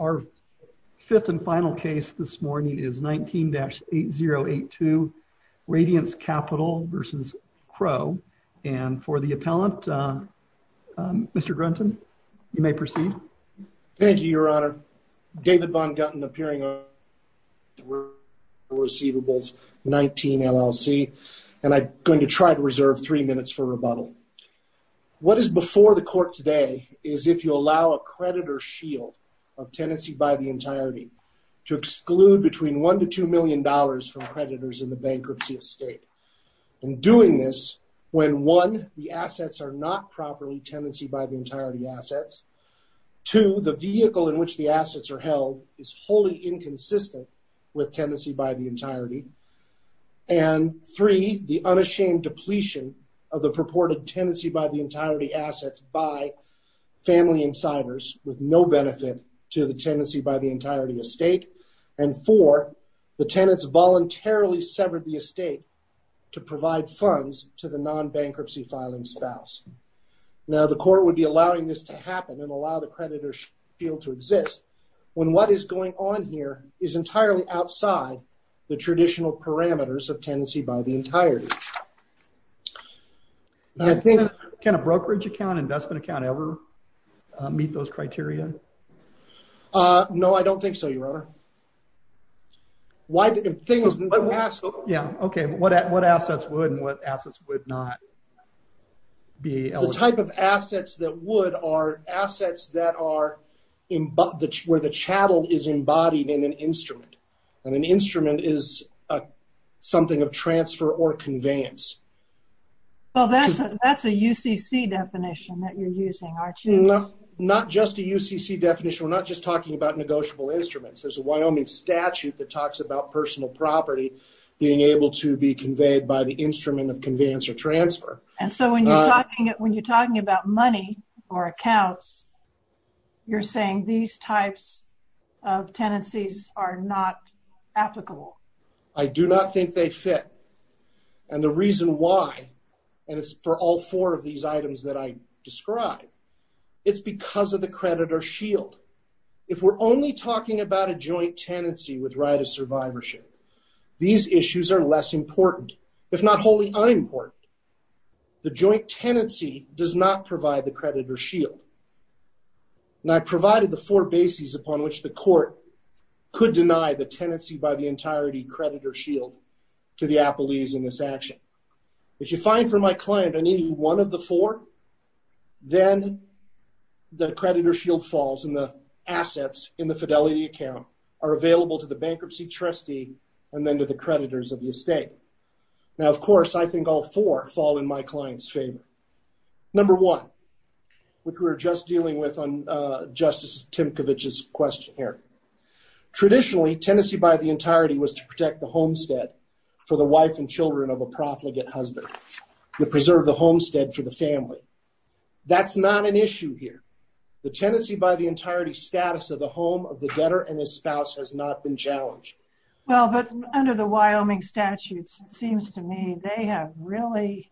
Our fifth and final case this morning is 19-8082, Radiance Capital v. Crow, and for the appellant, Mr. Grunton, you may proceed. Thank you, Your Honor. David Von Gutten, appearing on the receivables, 19 LLC, and I'm going to try to reserve three minutes for rebuttal. What is before the court today is if you allow a creditor shield of tenancy by the entirety to exclude between one to two million dollars from creditors in the bankruptcy estate. In doing this, when one, the assets are not properly tenancy by the entirety assets, two, the vehicle in which the assets are held is wholly inconsistent with tenancy by the entirety, and three, the unashamed depletion of the purported tenancy by the entirety assets by family insiders with no benefit to the tenancy by the entirety estate, and four, the tenants voluntarily severed the estate to provide funds to the non-bankruptcy filing spouse. Now, the court would be allowing this to happen and allow the creditor shield to exist when what is going on here is entirely outside the traditional parameters of tenancy by the entirety. Can a brokerage account, investment account ever meet those criteria? No, I don't think so, Your Honor. Yeah, okay. What assets would and what assets would not be eligible? The type of assets that would are assets where the chattel is embodied in an instrument, and an instrument is something of transfer or conveyance. Well, that's a UCC definition that you're using, aren't you? No, not just a UCC definition. We're not just talking about negotiable instruments. There's a Wyoming statute that talks about personal property being able to be conveyed by the instrument of conveyance or transfer. And so when you're talking about money or accounts, you're saying these types of tenancies are not applicable? I do not think they fit. And the reason why, and it's for all four of these items that I described, it's because of the creditor shield. If we're only talking about a joint tenancy with right of survivorship, these issues are less important, if not wholly unimportant. The joint tenancy does not provide the creditor shield. And I provided the four bases upon which the court could deny the tenancy by the entirety creditor shield to the appellees in this action. If you find for my client, I need one of the four, then the creditor shield falls and the assets in the fidelity account are available to the bankruptcy trustee, and then to the creditors of the estate. Now, of course, I in my client's favor. Number one, which we were just dealing with on Justice Timkovich's question here. Traditionally, tenancy by the entirety was to protect the homestead for the wife and children of a profligate husband, to preserve the homestead for the family. That's not an issue here. The tenancy by the entirety status of the home of the debtor and his spouse has not been challenged. Well, but under the Wyoming statutes, it seems to me they have really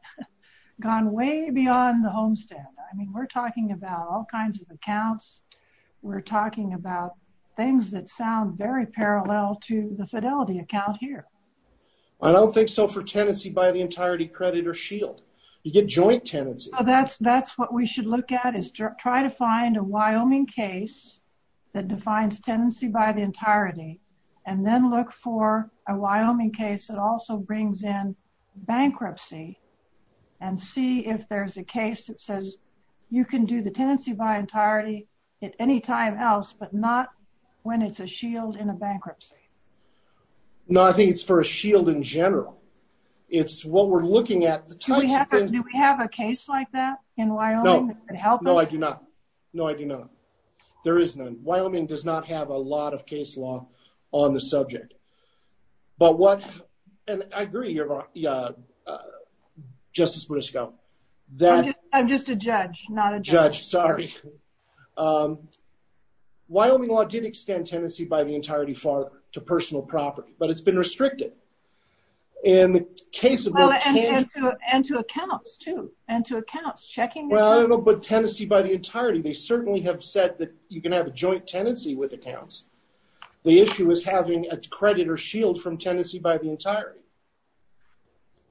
gone way beyond the homestead. I mean, we're talking about all kinds of accounts. We're talking about things that sound very parallel to the fidelity account here. I don't think so for tenancy by the entirety creditor shield, you get joint tenancy. That's that's what we should look at is try to find a Wyoming case that defines tenancy by the entirety, and then look for a Wyoming case that also brings in bankruptcy and see if there's a case that says you can do the tenancy by entirety at any time else, but not when it's a shield in a bankruptcy. No, I think it's for a shield in general. It's what we're looking at. No, I do not. No, I do not. There is none. Wyoming does not have a lot of case law on the subject. But what, and I agree, Justice Boudicca. I'm just a judge, not a judge. Judge, sorry. Wyoming law did extend tenancy by the entirety to personal property, but it's been restricted. And to accounts, too. And to accounts. Well, I don't know about tenancy by the entirety. They certainly have said that you can have a joint tenancy with accounts. The issue is having a creditor shield from tenancy by the entirety.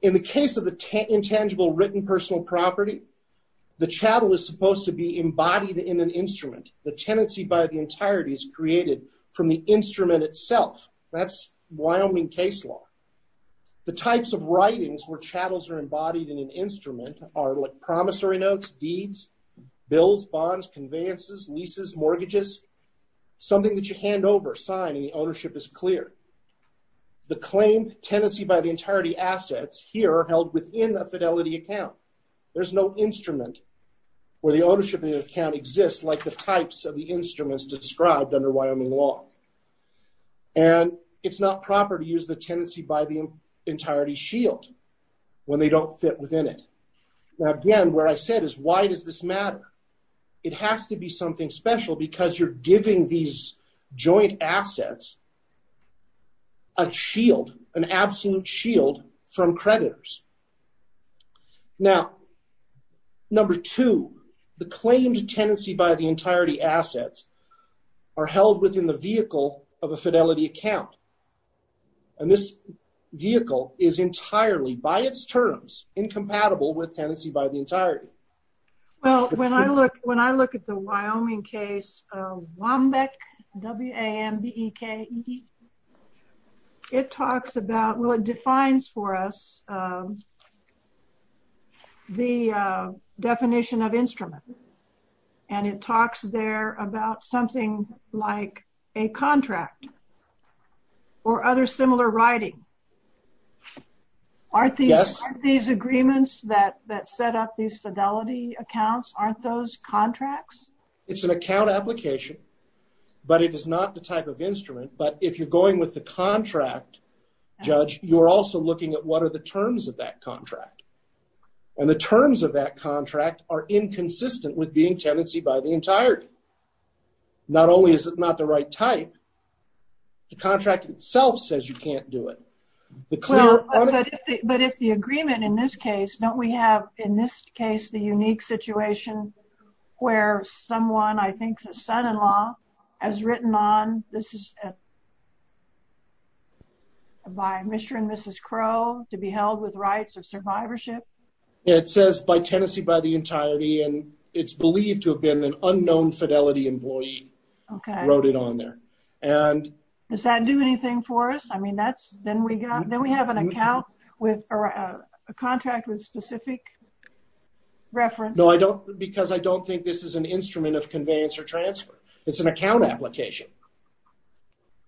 In the case of the intangible written personal property, the chattel is supposed to be embodied in an instrument. The tenancy by the entirety is created from the instrument itself. That's Wyoming case law. The types of writings where chattels are embodied in an instrument are like promissory notes, deeds, bills, bonds, conveyances, leases, mortgages. Something that you hand over, sign, and the ownership is clear. The claim tenancy by the entirety assets here are held within a fidelity account. There's no instrument where the ownership of the account exists like the types of the instruments described under Wyoming law. And it's not proper to use the is why does this matter? It has to be something special because you're giving these joint assets a shield, an absolute shield from creditors. Now, number two, the claimed tenancy by the entirety assets are held within the vehicle of a fidelity account. And this vehicle is entirely, by its terms, incompatible with tenancy by the entirety. Well, when I look, when I look at the Wyoming case of Wambeck, W-A-M-B-E-K-E, it talks about, well, it defines for us the definition of instrument. And it talks there about something like a contract or other similar writing. Aren't these agreements that set up these fidelity accounts, aren't those contracts? It's an account application, but it is not the type of instrument. But if you're going with the contract, Judge, you're also looking at what are the terms of that contract. And the terms of that contract are inconsistent with being tenancy by the entirety. Not only is it not the right type, the contract itself says you can't do it. But if the agreement in this case, don't we have, in this case, the unique situation where someone, I think the son-in-law, has written on, this is by Mr. and Mrs. Crow to be held with rights of survivorship. It says by tenancy by the entirety, and it's believed to have been an unknown fidelity employee wrote it on there. And does that do anything for us? I mean, that's, then we got, then we have an account with a contract with specific reference. No, I don't, because I don't think this is an instrument of conveyance or transfer. It's an account application.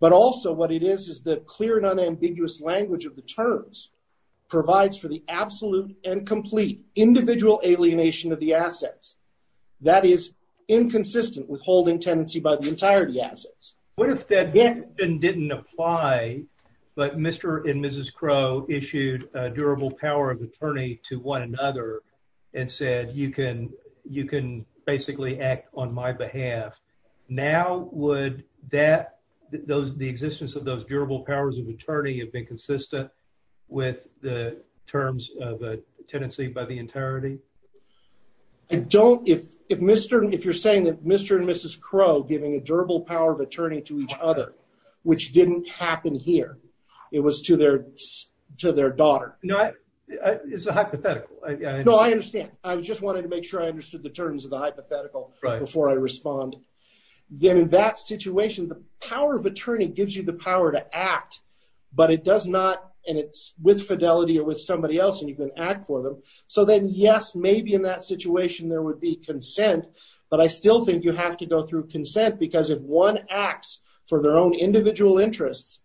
But also what it is, is the clear and unambiguous language of the terms provides for the absolute and complete individual alienation of the assets. That is inconsistent with holding tenancy by the entirety assets. What if that didn't apply, but Mr. and Mrs. Crow issued a durable power of attorney to one another and said, you can basically act on my behalf. Now, would that, the existence of those durable powers of attorney have been consistent with the terms of a tenancy by the entirety? I don't, if, if Mr., if you're saying that Mr. and Mrs. Crow giving a durable power of attorney to each other, which didn't happen here, it was to their, to their daughter. No, it's a hypothetical. No, I understand. I just wanted to make sure I understood the terms of the hypothetical before I respond. Then in that situation, the power of attorney gives you the power to act, but it does not, and it's with fidelity or with somebody else and you can act for them. So then yes, maybe in that situation there would be consent, but I still think you have to go through consent because if one acts for their own individual interests,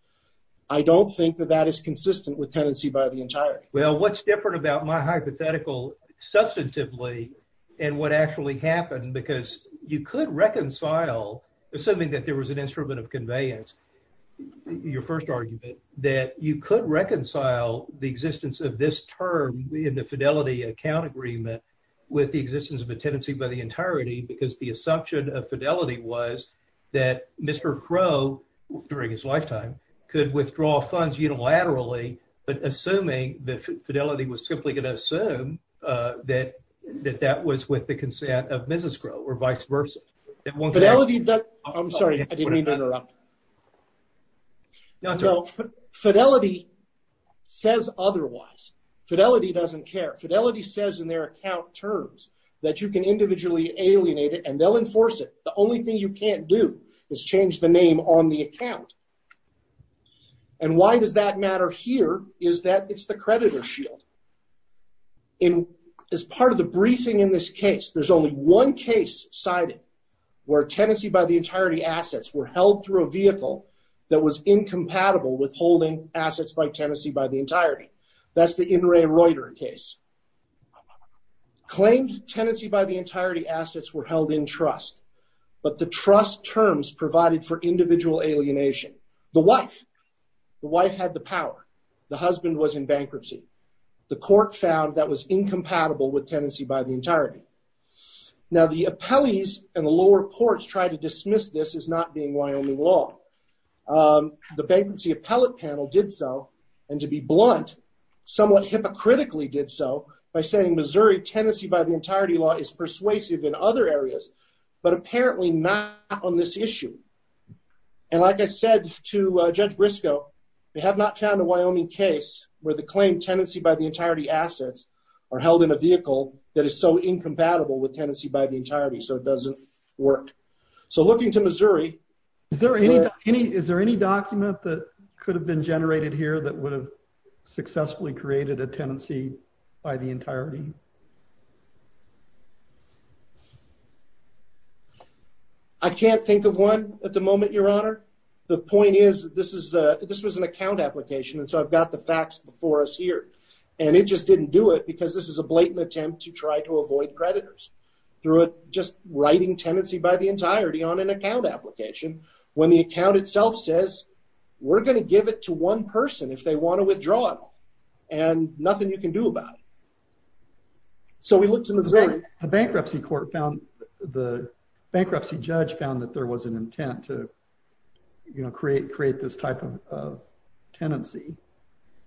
I don't think that that is consistent with tenancy by the entirety. Well, what's different about my hypothetical substantively and what actually happened, because you could reconcile, assuming that there was an instrument of conveyance, your first argument, that you could reconcile the existence of this term in the fidelity account agreement with the existence of a tenancy by the entirety, because the assumption of fidelity was that Mr. Crow during his lifetime could withdraw funds unilaterally, but assuming the fidelity was simply going to assume that that was with the consent of Mrs. Crow or vice versa. Fidelity, I'm sorry, I didn't mean to interrupt. Fidelity says otherwise. Fidelity doesn't care. Fidelity says in their account terms that you can individually alienate it and they'll enforce it. The only thing you can't do is change the name on the account. And why does that matter here is that it's the creditor shield. As part of the briefing in this case, there's only one case cited where tenancy by the entirety assets were held through a vehicle that was incompatible with holding assets by tenancy by the entirety. That's the In re Reuter case. Claimed tenancy by the entirety assets were held in trust, but the trust terms provided for individual alienation. The wife. The wife had the power. The husband was in bankruptcy. The court found that was incompatible with tenancy by the entirety. Now the appellees and the lower courts tried to dismiss this as not being Wyoming law. The bankruptcy appellate panel did so, and to be blunt, somewhat hypocritically did so by saying Missouri tenancy by the entirety law is persuasive in other areas, but apparently not on this issue. And like I said to Judge Briscoe, they have not found a Wyoming case where the claim tenancy by the entirety assets are held in a vehicle that is so incompatible with tenancy by the entirety, so it doesn't work. So looking to Missouri. Is there any document that could have been generated here that would have successfully created a tenancy by the entirety? I can't think of one at the moment, Your Honor. The point is this was an account application, and so I've got the facts before us here, and it just didn't do it because this is a blatant attempt to try to avoid creditors through just writing tenancy by the entirety on an account application when the account itself says we're going to give it to one person if they want to withdraw it all, and nothing you can do about it. So we looked in Missouri. The bankruptcy court found the bankruptcy judge found that there was an intent to, you know, create this type of tenancy.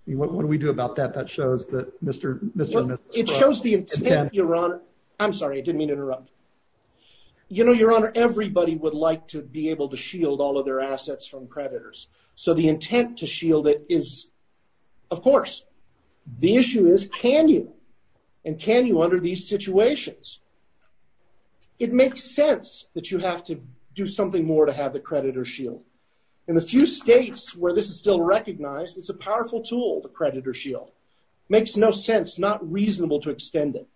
What do we do about that? That shows that Mr. and Mrs. Briscoe. It shows the intent, Your Honor. I'm sorry, I didn't mean to interrupt. You know, Your Honor, everybody would like to be able to shield all of their assets from creditors, so the intent to shield it is, of course. The issue is can you, and can you under these situations? It makes sense that you have to do something more to have the creditor shield. In the few states where this is still recognized, it's a powerful tool, the creditor shield. Makes no sense, not reasonable to extend it.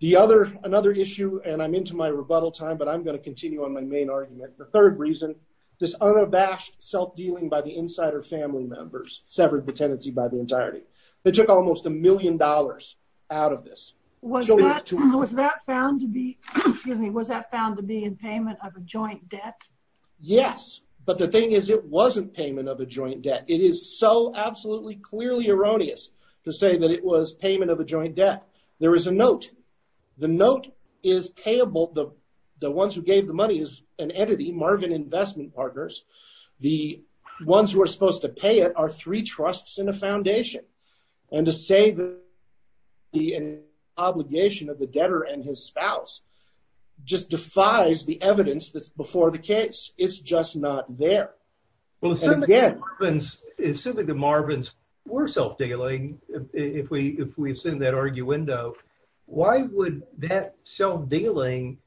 The other, another issue, and I'm into my rebuttal time, but I'm going to continue on my main argument. The third reason, this unabashed self-dealing by the insider family members severed the tenancy by the entirety. They took almost a million dollars out of this. Was that found to be, excuse me, was that found to be in payment of a joint debt? Yes, but the thing is it wasn't payment of a joint debt. It is so absolutely clearly erroneous to say that it was payment of a joint debt. There is a note. The note is payable. The ones who gave the money is an entity, Marvin Investment Partners. The ones who are supposed to pay it are three trusts and a foundation, and to say that the obligation of the debtor and his spouse just defies the evidence that's before the case. It's just not there. Well, assuming the Marvins were self-dealing, if we assume that arguendo, why would that self-dealing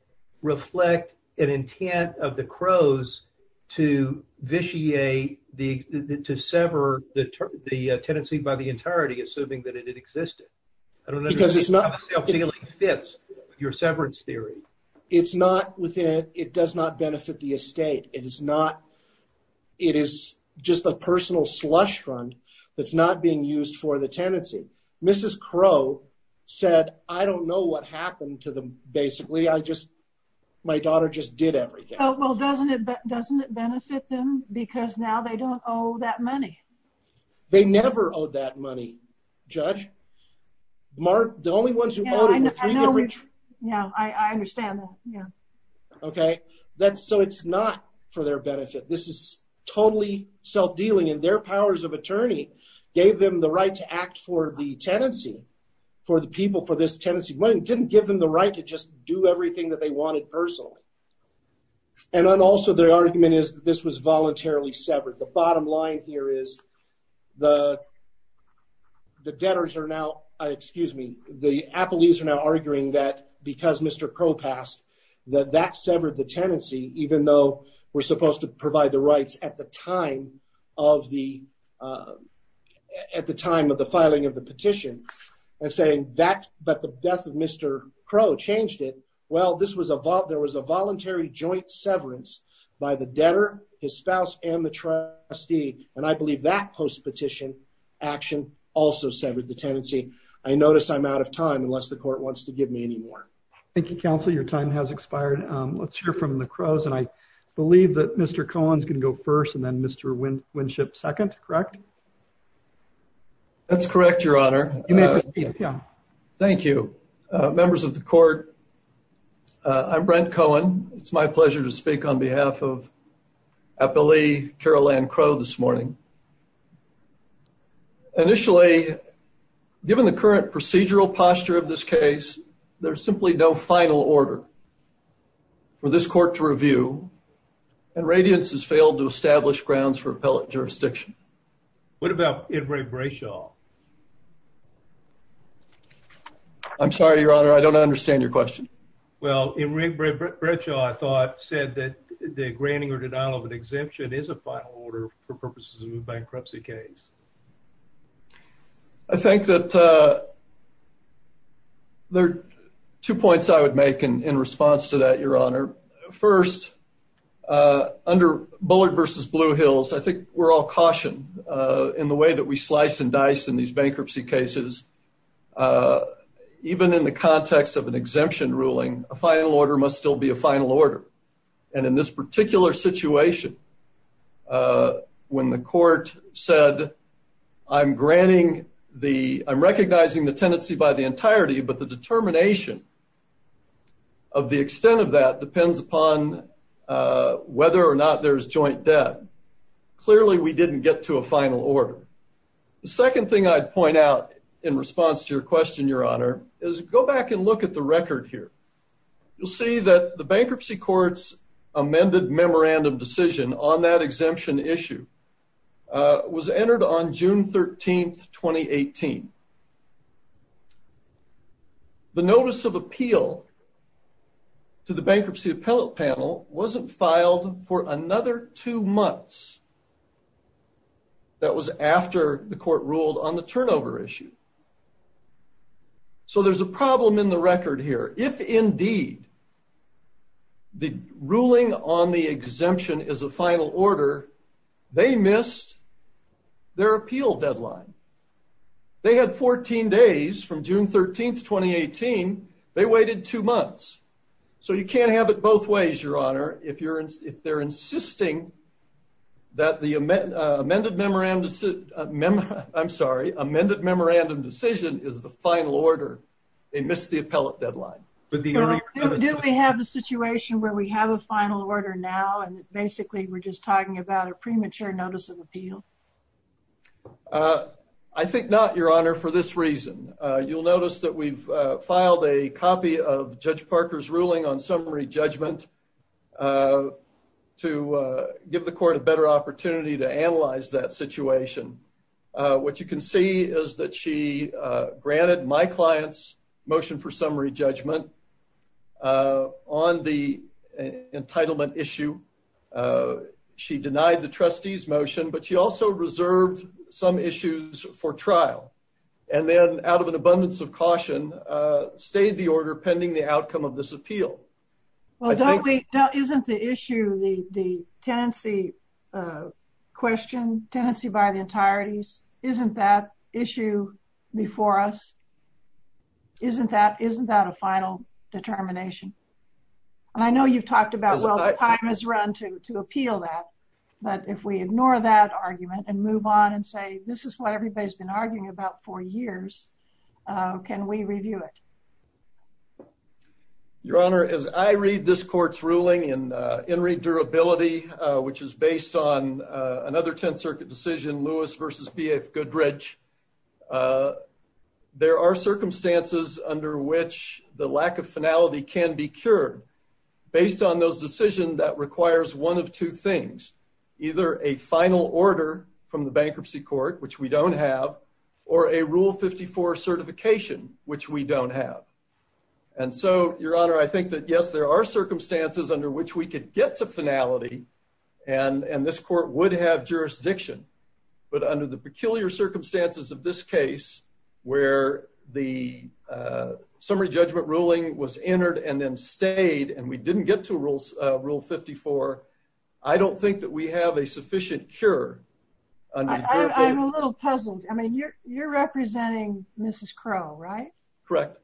reflect an intent of the Crows to vitiate, to sever the tenancy by the entirety, assuming that it existed? I don't understand how self-dealing fits your severance theory. It does not benefit the estate. It is just a personal slush fund that's not being used for the tenancy. Mrs. Crow said, I don't know what happened to them, basically. My daughter just did everything. Well, doesn't it benefit them because now they don't owe that money? They never owed that money, Judge. The only ones who owed it were three different trusts. Yeah, I understand that. Okay. So, it's not for their benefit. This is totally self-dealing, and their powers of attorney gave them the right to act for the tenancy, for the people for this tenancy. It didn't give them the right to just do everything that they wanted personally. And also, their argument is that this was voluntarily severed. The bottom line here is the debtors are now, excuse me, the appellees are now arguing that because Mr. Crow passed, that that severed the tenancy, even though we're supposed to provide the rights at the time of the filing of the petition, and saying that the death Mr. Crow changed it. Well, there was a voluntary joint severance by the debtor, his spouse, and the trustee, and I believe that post-petition action also severed the tenancy. I notice I'm out of time unless the court wants to give me any more. Thank you, counsel. Your time has expired. Let's hear from the Crows, and I believe that Mr. Cohen's going to go first and then Mr. Winship second, correct? That's correct, Your Honor. You may proceed, Your Honor. Thank you. Members of the court, I'm Brent Cohen. It's my pleasure to speak on behalf of Appellee Carol Ann Crow this morning. Initially, given the current procedural posture of this case, there's simply no final order for this court to review, and Radiance has failed to establish grounds for appellate jurisdiction. What about Imre Bretshaw? I'm sorry, Your Honor. I don't understand your question. Well, Imre Bretshaw, I thought, said that the granting or denial of an exemption is a final order for purposes of a bankruptcy case. I think that there are two points I would make in response to that, Your Honor. First, under Bullard v. Blue Hills, I think we're all cautioned in the way that we slice and dice in these bankruptcy cases. Even in the context of an exemption ruling, a final order must still be a final order. And in this particular situation, when the court said, I'm recognizing the tenancy by the entirety, but the determination of the extent of that depends upon whether or not there's joint debt. Clearly, we didn't get to a final order. The second thing I'd point out in response to your question, Your Honor, is go back and look at the record here. You'll see that the bankruptcy court's amended memorandum decision on that exemption issue was entered on June 13, 2018. The notice of appeal to the bankruptcy appellate wasn't filed for another two months. That was after the court ruled on the turnover issue. So there's a problem in the record here. If indeed the ruling on the exemption is a final order, they missed their appeal deadline. They had 14 days from June 13, 2018. They waited two months. So you can't have it both ways, Your Honor, if they're insisting that the amended memorandum decision is the final order. They missed the appellate deadline. Do we have a situation where we have a final order now, and basically we're just talking about a premature notice of appeal? I think not, Your Honor, for this reason. You'll notice that we've filed a copy of Judge Parker's ruling on summary judgment to give the court a better opportunity to analyze that situation. What you can see is that she granted my client's motion for summary judgment on the entitlement issue. She denied the trustee's motion, but she also reserved some issues for trial. And then, out of an abundance of caution, stayed the order pending the outcome of this appeal. Well, isn't the issue, the tenancy question, tenancy by the entireties, isn't that issue before us? Isn't that a final determination? And I know you've talked about, well, the time has run to appeal that. But if we ignore that argument and move on and say, this is what everybody's been arguing about for years, can we review it? Your Honor, as I read this court's ruling in In Re Durability, which is based on another Tenth Circuit decision, Lewis v. B.F. Goodrich, there are circumstances under which the lack of finality can be cured. Based on those decisions, that requires one of two things, either a final order from the bankruptcy court, which we don't have, or a Rule 54 certification, which we don't have. And so, Your Honor, I think that, yes, there are circumstances under which we could get to finality, and this court would have jurisdiction. But under the peculiar circumstances of this case, where the summary judgment ruling was entered and then stayed, and we didn't get to Rule 54, I don't think that we have a sufficient cure. I'm a little puzzled. I mean, you're representing Mrs. Crow, right? Correct.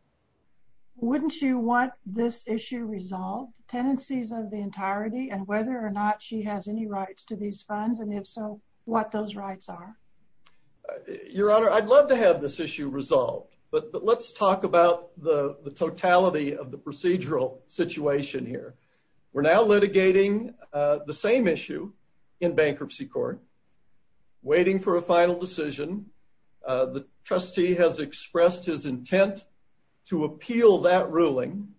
Wouldn't you want this issue resolved, tenancies of the entirety, and whether or not she has any rights to these funds, and if so, what those rights are? Your Honor, I'd love to have this issue resolved, but let's talk about the totality of the procedural situation here. We're now litigating the same issue in bankruptcy court, waiting for a final decision. The trustee has expressed his intent to appeal that ruling,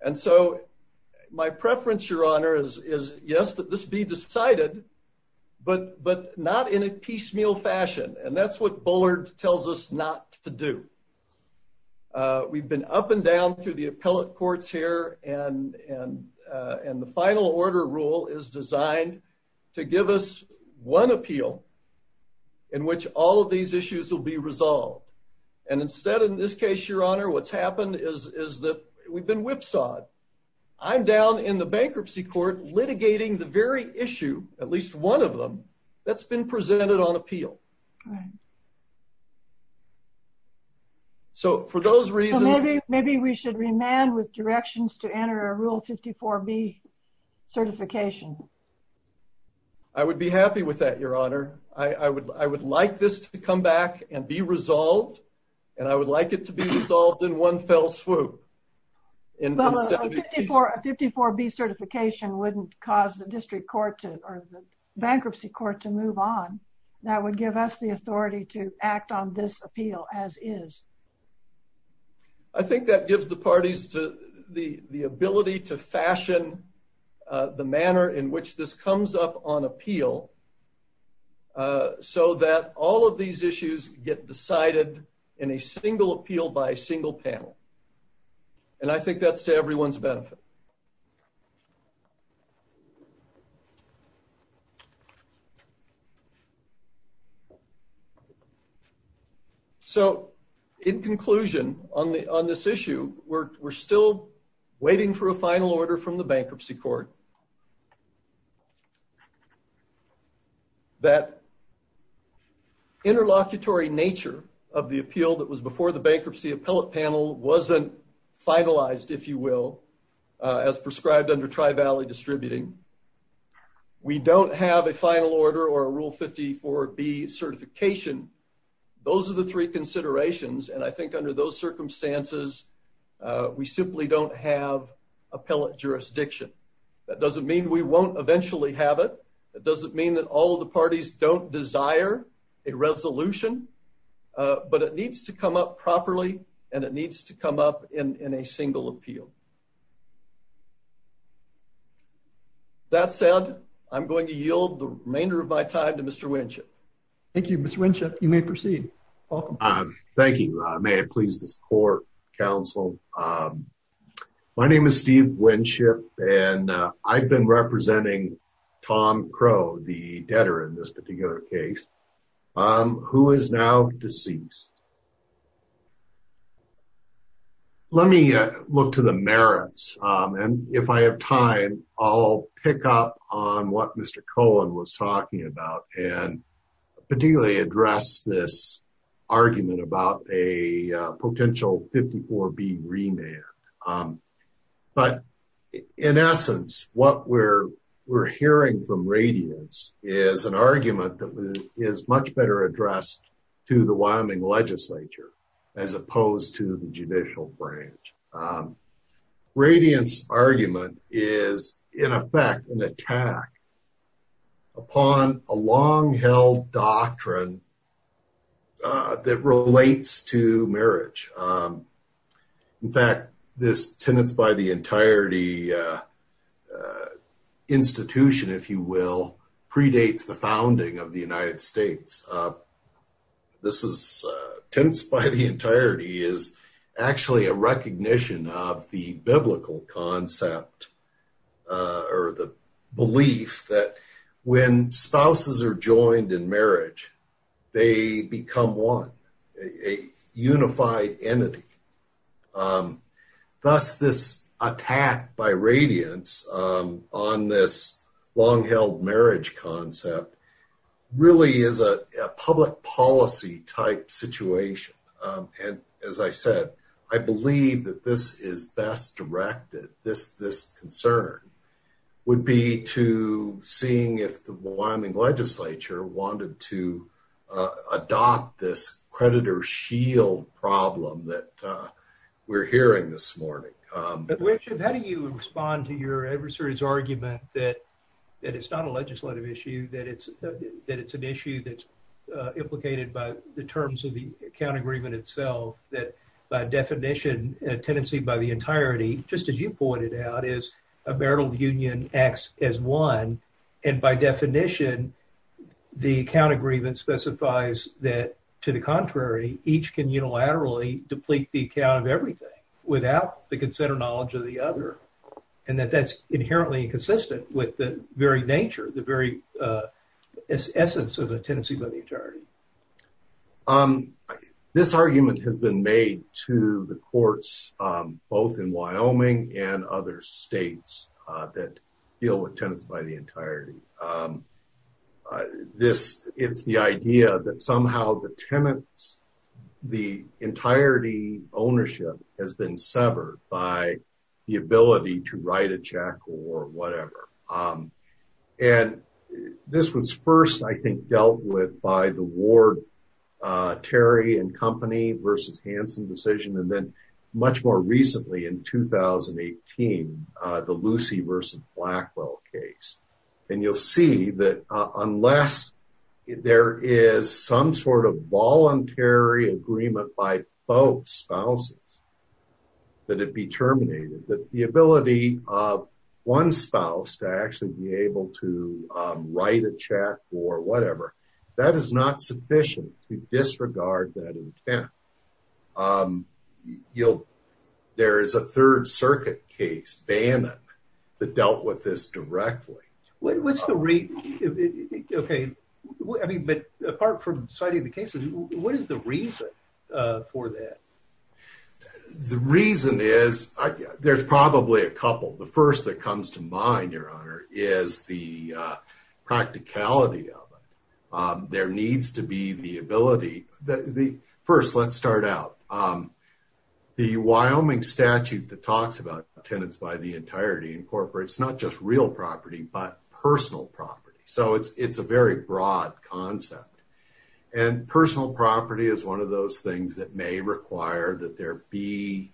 and so my preference, Your Honor, is, yes, that this be decided, but not in a piecemeal fashion, and that's what Bullard tells us not to do. We've been up and down through the appellate courts here, and the final order rule is designed to give us one appeal in which all of these issues will be resolved. And instead, in this case, Your Honor, what's happened is that we've been whipsawed. I'm down in the bankruptcy court litigating the very issue, at least one of them, that's been presented on appeal. So, for those reasons... Maybe we should remand with directions to enter a Rule 54B certification. I would be happy with that, Your Honor. I would like this to come back and be resolved, and I would like it to be resolved in one fell swoop. A 54B certification wouldn't cause the district court or the bankruptcy court to move on. That would give us the authority to I think that gives the parties the ability to fashion the manner in which this comes up on appeal so that all of these issues get decided in a single appeal by a single panel, and I think that's to everyone's benefit. So, in conclusion, on this issue, we're still waiting for a final order from the bankruptcy court that interlocutory nature of the appeal that was before the bankruptcy appellate panel wasn't finalized, if you will, as prescribed under Tri-Valley Distributing. We don't have a final order or a Rule 54B certification. Those are the three considerations, and I think under those circumstances, we simply don't have appellate jurisdiction. That doesn't mean we won't eventually have it. It doesn't mean that all of the parties don't desire a resolution, but it needs to come up properly, and it needs to come up in a single appeal. That said, I'm going to yield the remainder of my time to Mr. Winship. Thank you, Mr. Winship. You may proceed. Thank you. May it please this court, counsel. My name is Steve Winship, and I've been representing Tom Crow, the debtor in this case, who is now deceased. Let me look to the merits, and if I have time, I'll pick up on what Mr. Cohen was talking about and particularly address this argument about a potential 54B remand. In essence, what we're hearing from Radiance is an argument that is much better addressed to the Wyoming legislature as opposed to the judicial branch. Radiance's argument is, in effect, an attack upon a long-held doctrine that relates to marriage. In fact, this tenants-by-the-entirety institution, if you will, predates the founding of the United States. This is tenants-by-the-entirety is actually a recognition of the biblical concept or the belief that when spouses are joined in marriage, they become one, a unified entity. Thus, this attack by Radiance on this long-held marriage concept really is a public policy-type situation. As I said, I believe that this is best directed. This concern would be to seeing if the we're hearing this morning. Richard, how do you respond to your adversary's argument that it's not a legislative issue, that it's an issue that's implicated by the terms of the account agreement itself, that by definition, a tenancy-by-the-entirety, just as you pointed out, is a marital union acts as one, and by definition, the account agreement specifies that, to the contrary, each can unilaterally deplete the account of everything without the consent or knowledge of the other, and that that's inherently inconsistent with the very nature, the very essence of a tenancy-by-the-entirety? This argument has been made to the courts both in Wyoming and other states that deal with tenants-by-the-entirety. This, it's the idea that somehow the tenants, the entirety ownership has been severed by the ability to write a check or whatever. And this was first, I think, dealt with by the Ward, Terry and Company versus Hanson decision, and then much more recently in 2018, the Lucy versus Blackwell case. And you'll see that unless there is some sort of voluntary agreement by both spouses that it be terminated, that the ability of one spouse to actually be able to write a check or whatever, that is not sufficient to disregard that intent. You know, there is a Third Circuit case, Bannon, that dealt with this directly. What's the reason? Okay, I mean, but apart from citing the cases, what is the reason for that? The reason is, there's probably a couple. The first that comes to mind, Your Honor, is the practicality of it. There needs to be the ability. First, let's start out. The Wyoming statute that talks about tenants-by-the-entirety incorporates not just real property, but personal property. So it's a very broad concept. And personal property is one of those things that may require that there be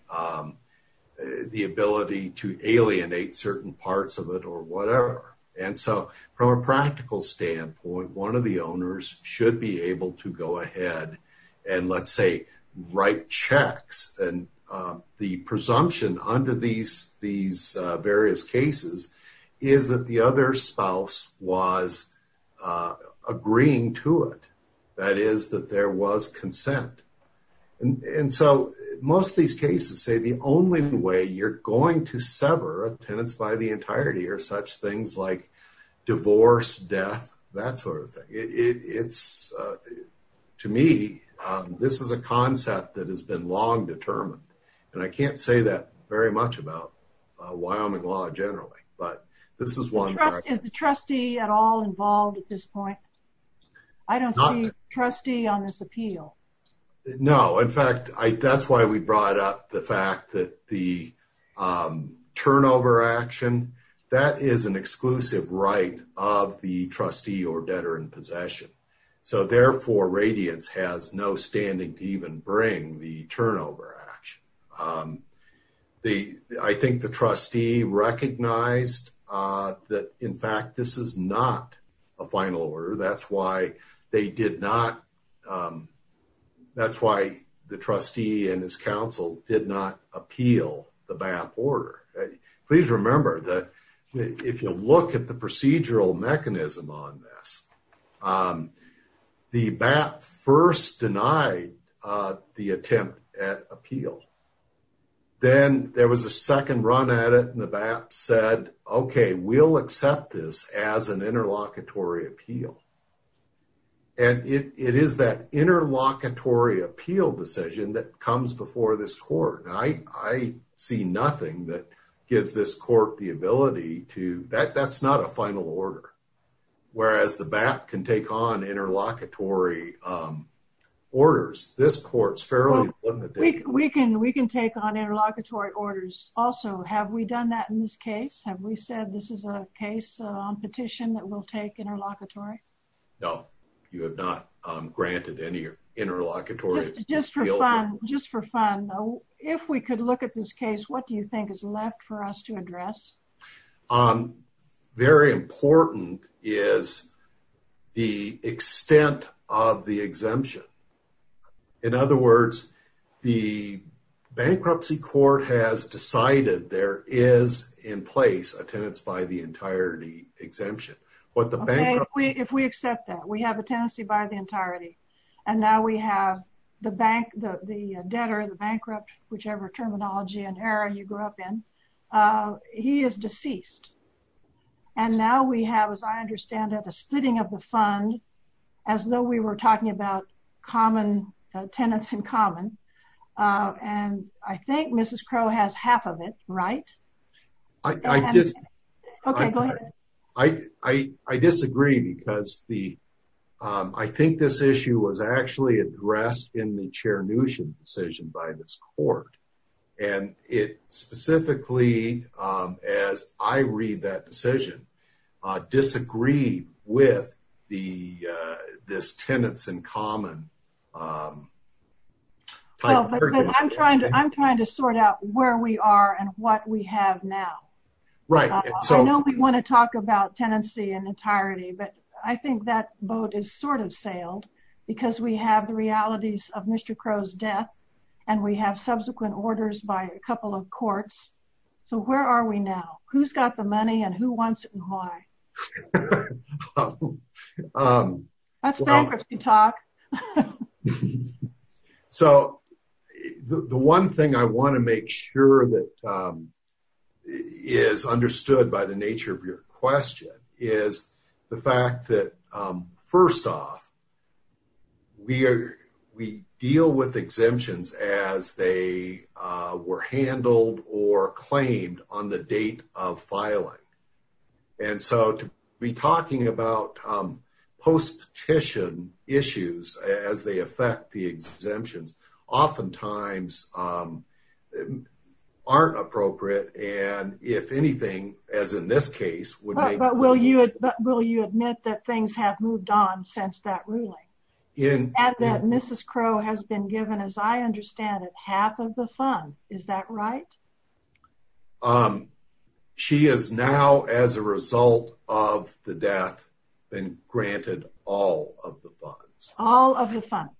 the ability to alienate certain parts of it or whatever. And so from a practical standpoint, one of the owners should be able to go ahead and, let's say, write checks. And the presumption under these various cases is that the other spouse was agreeing to it. That is, that there was consent. And so most of these cases say the only way you're going to sever tenants-by-the-entirety are such things like divorce, death, that sort of thing. To me, this is a concept that has been long determined. And I can't say that very much about Wyoming law generally, but this is one. Is the trustee at all involved at this point? I don't see a trustee on this appeal. No, in fact, that's why we brought up the fact that the turnover action, that is an exclusive right of the trustee or debtor in possession. So therefore, Radiance has no standing to even bring the turnover action. I think the trustee recognized that, in fact, this is not a final order. That's why they did not, that's why the trustee and his counsel did not appeal the BAP order. Please remember that if you look at the procedural mechanism on this, the BAP first denied the attempt at appeal. Then there was a second run at it, and the BAP said, okay, we'll accept this as an interlocutory appeal. And it is that interlocutory appeal decision that comes before this court. I see nothing that gives this court the ability to, that's not a final order. Whereas the BAP can take on interlocutory orders. This court's fairly limited. We can take on interlocutory orders. Also, have we done that in this case? Have we said this is a case on petition that will take on interlocutory? No, you have not granted any interlocutory appeal. Just for fun though, if we could look at this case, what do you think is left for us to address? Very important is the extent of the exemption. In other words, the bankruptcy court has decided there is in place a tenants by the entirety exemption. If we accept that, we have a tenancy by the entirety. And now we have the bank, the debtor, the bankrupt, whichever terminology and era you grew up in, he is deceased. And now we have, as I understand it, a splitting of the fund as though we were talking about common tenants in common. And I think Mrs. Crow has half of it, right? I disagree because I think this issue was actually addressed in the chair notion decision by this court. And it specifically, as I read that decision, disagree with this tenants in common. I'm trying to sort out where we are and what we have now. I know we want to talk about tenancy in entirety, but I think that boat is sort of sailed because we have the realities of Mr. Crow's death and we have subsequent orders by a couple of courts. So where are we now? Who's So the one thing I want to make sure that is understood by the nature of your question is the fact that first off, we deal with exemptions as they were handled or claimed on the date of exemptions. Oftentimes aren't appropriate. And if anything, as in this case, will you admit that things have moved on since that ruling in that Mrs. Crow has been given, as I understand it, half of the fund. Is that right? She is now, as a result of the death, been granted all of the funds, all of the funds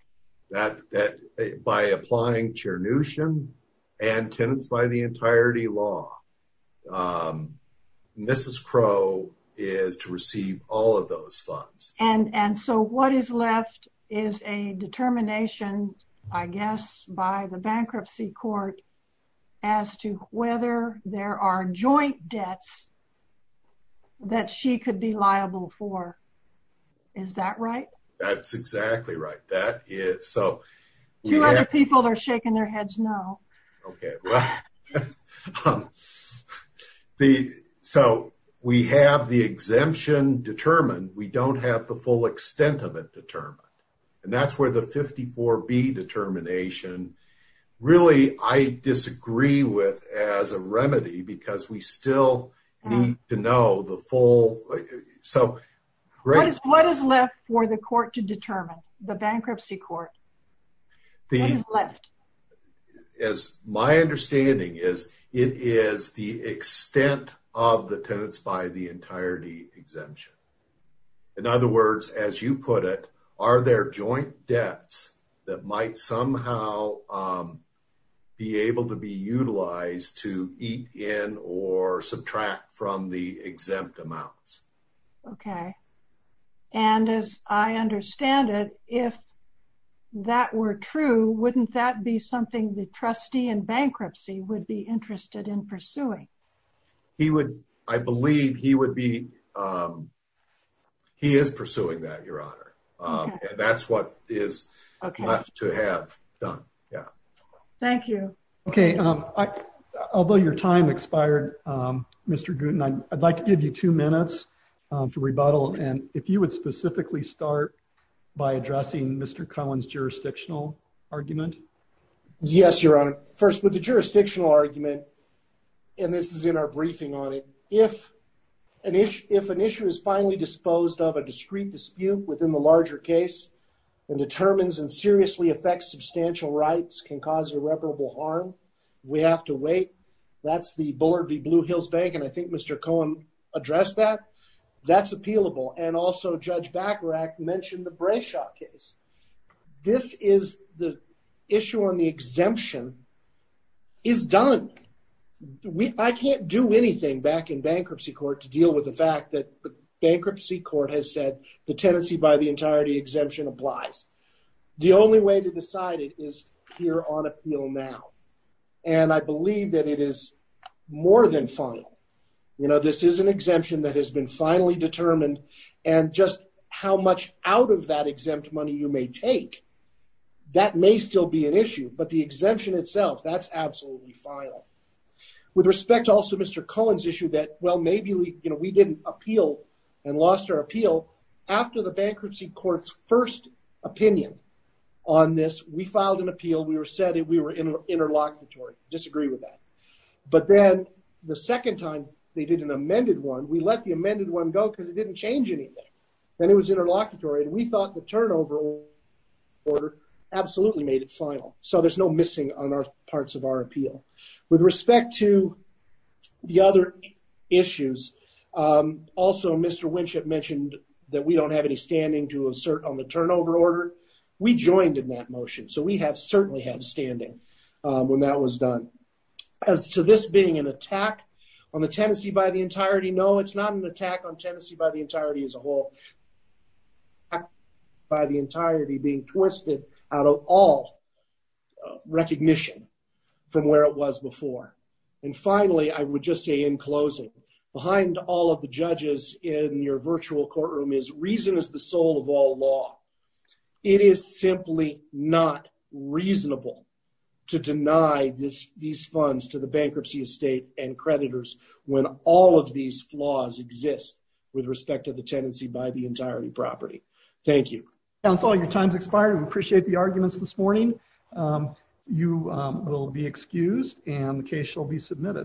that that by applying chair notion and tenants by the entirety law, Mrs. Crow is to receive all of those funds. And so what is left is a determination, I guess, by the bankruptcy court as to whether there are joint debts that she could be liable for. Is that right? That's exactly right. That is so two other people are shaking their heads. No. Okay. The so we have the exemption determined. We don't have the full extent of it determined. And that's where the 54 be determination. Really, I disagree with as a remedy because we still need to know the full. So what is left for the court to determine the bankruptcy court? The is my understanding is it is the extent of the tenants by the entirety exemption. In other words, as you put it, are there joint debts that might somehow be able to be utilized to eat in or subtract from the exempt amounts? Okay. And as I understand it, if that were true, wouldn't that be something the trustee and bankruptcy would be interested in pursuing? He would, I believe he would be. He is pursuing that your honor. That's what is left to have done. Yeah. Thank you. Okay. Although your time expired, Mr. Gruden, I'd like to give you two minutes for rebuttal. And if you would specifically start by addressing Mr. Collins jurisdictional argument. Yes, your honor. First with the jurisdictional argument, and this is in our briefing on it. If an issue, if an issue is finally disposed of a discrete dispute within the larger case and determines and seriously affects substantial rights can cause irreparable harm. We have to wait. That's the Bullard v. Blue Hills bank. And I think Mr. Cohen addressed that that's appealable. And also judge Bacharach mentioned the Brayshaw case. This is the issue on the exemption is done. We, I can't do anything back in bankruptcy court to deal with the fact that the bankruptcy court has said the tenancy by the entirety exemption applies. The only way to decide it is here on appeal now. And I believe that it is more than final. You know, this is an exemption that has been finally determined. And just how much out of that exempt money you may take. That may still be an issue, but the exemption itself, that's absolutely final. With respect to also Mr. Cohen's issue that, well, maybe we, you know, we didn't appeal and lost our appeal after the bankruptcy court's first opinion on this, we filed an appeal. We were said that we were in interlocutory. Disagree with that. But then the second time they did an amended one, we let the amended one go because it didn't change anything. Then it was interlocutory and we thought the turnover order absolutely made it final. So there's no missing on our appeal. With respect to the other issues, also Mr. Winship mentioned that we don't have any standing to assert on the turnover order. We joined in that motion. So we have certainly had standing when that was done. As to this being an attack on the tenancy by the entirety, no, it's not an attack on tenancy by the entirety as a whole. By the entirety being twisted out of all recognition from where it was before. And finally, I would just say in closing, behind all of the judges in your virtual courtroom is reason is the soul of all law. It is simply not reasonable to deny these funds to the bankruptcy estate and creditors when all of these flaws exist with respect to the tenancy by the entirety property. Thank you. That's all. Your time's expired. We appreciate the arguments this morning. You will be excused and the case shall be submitted.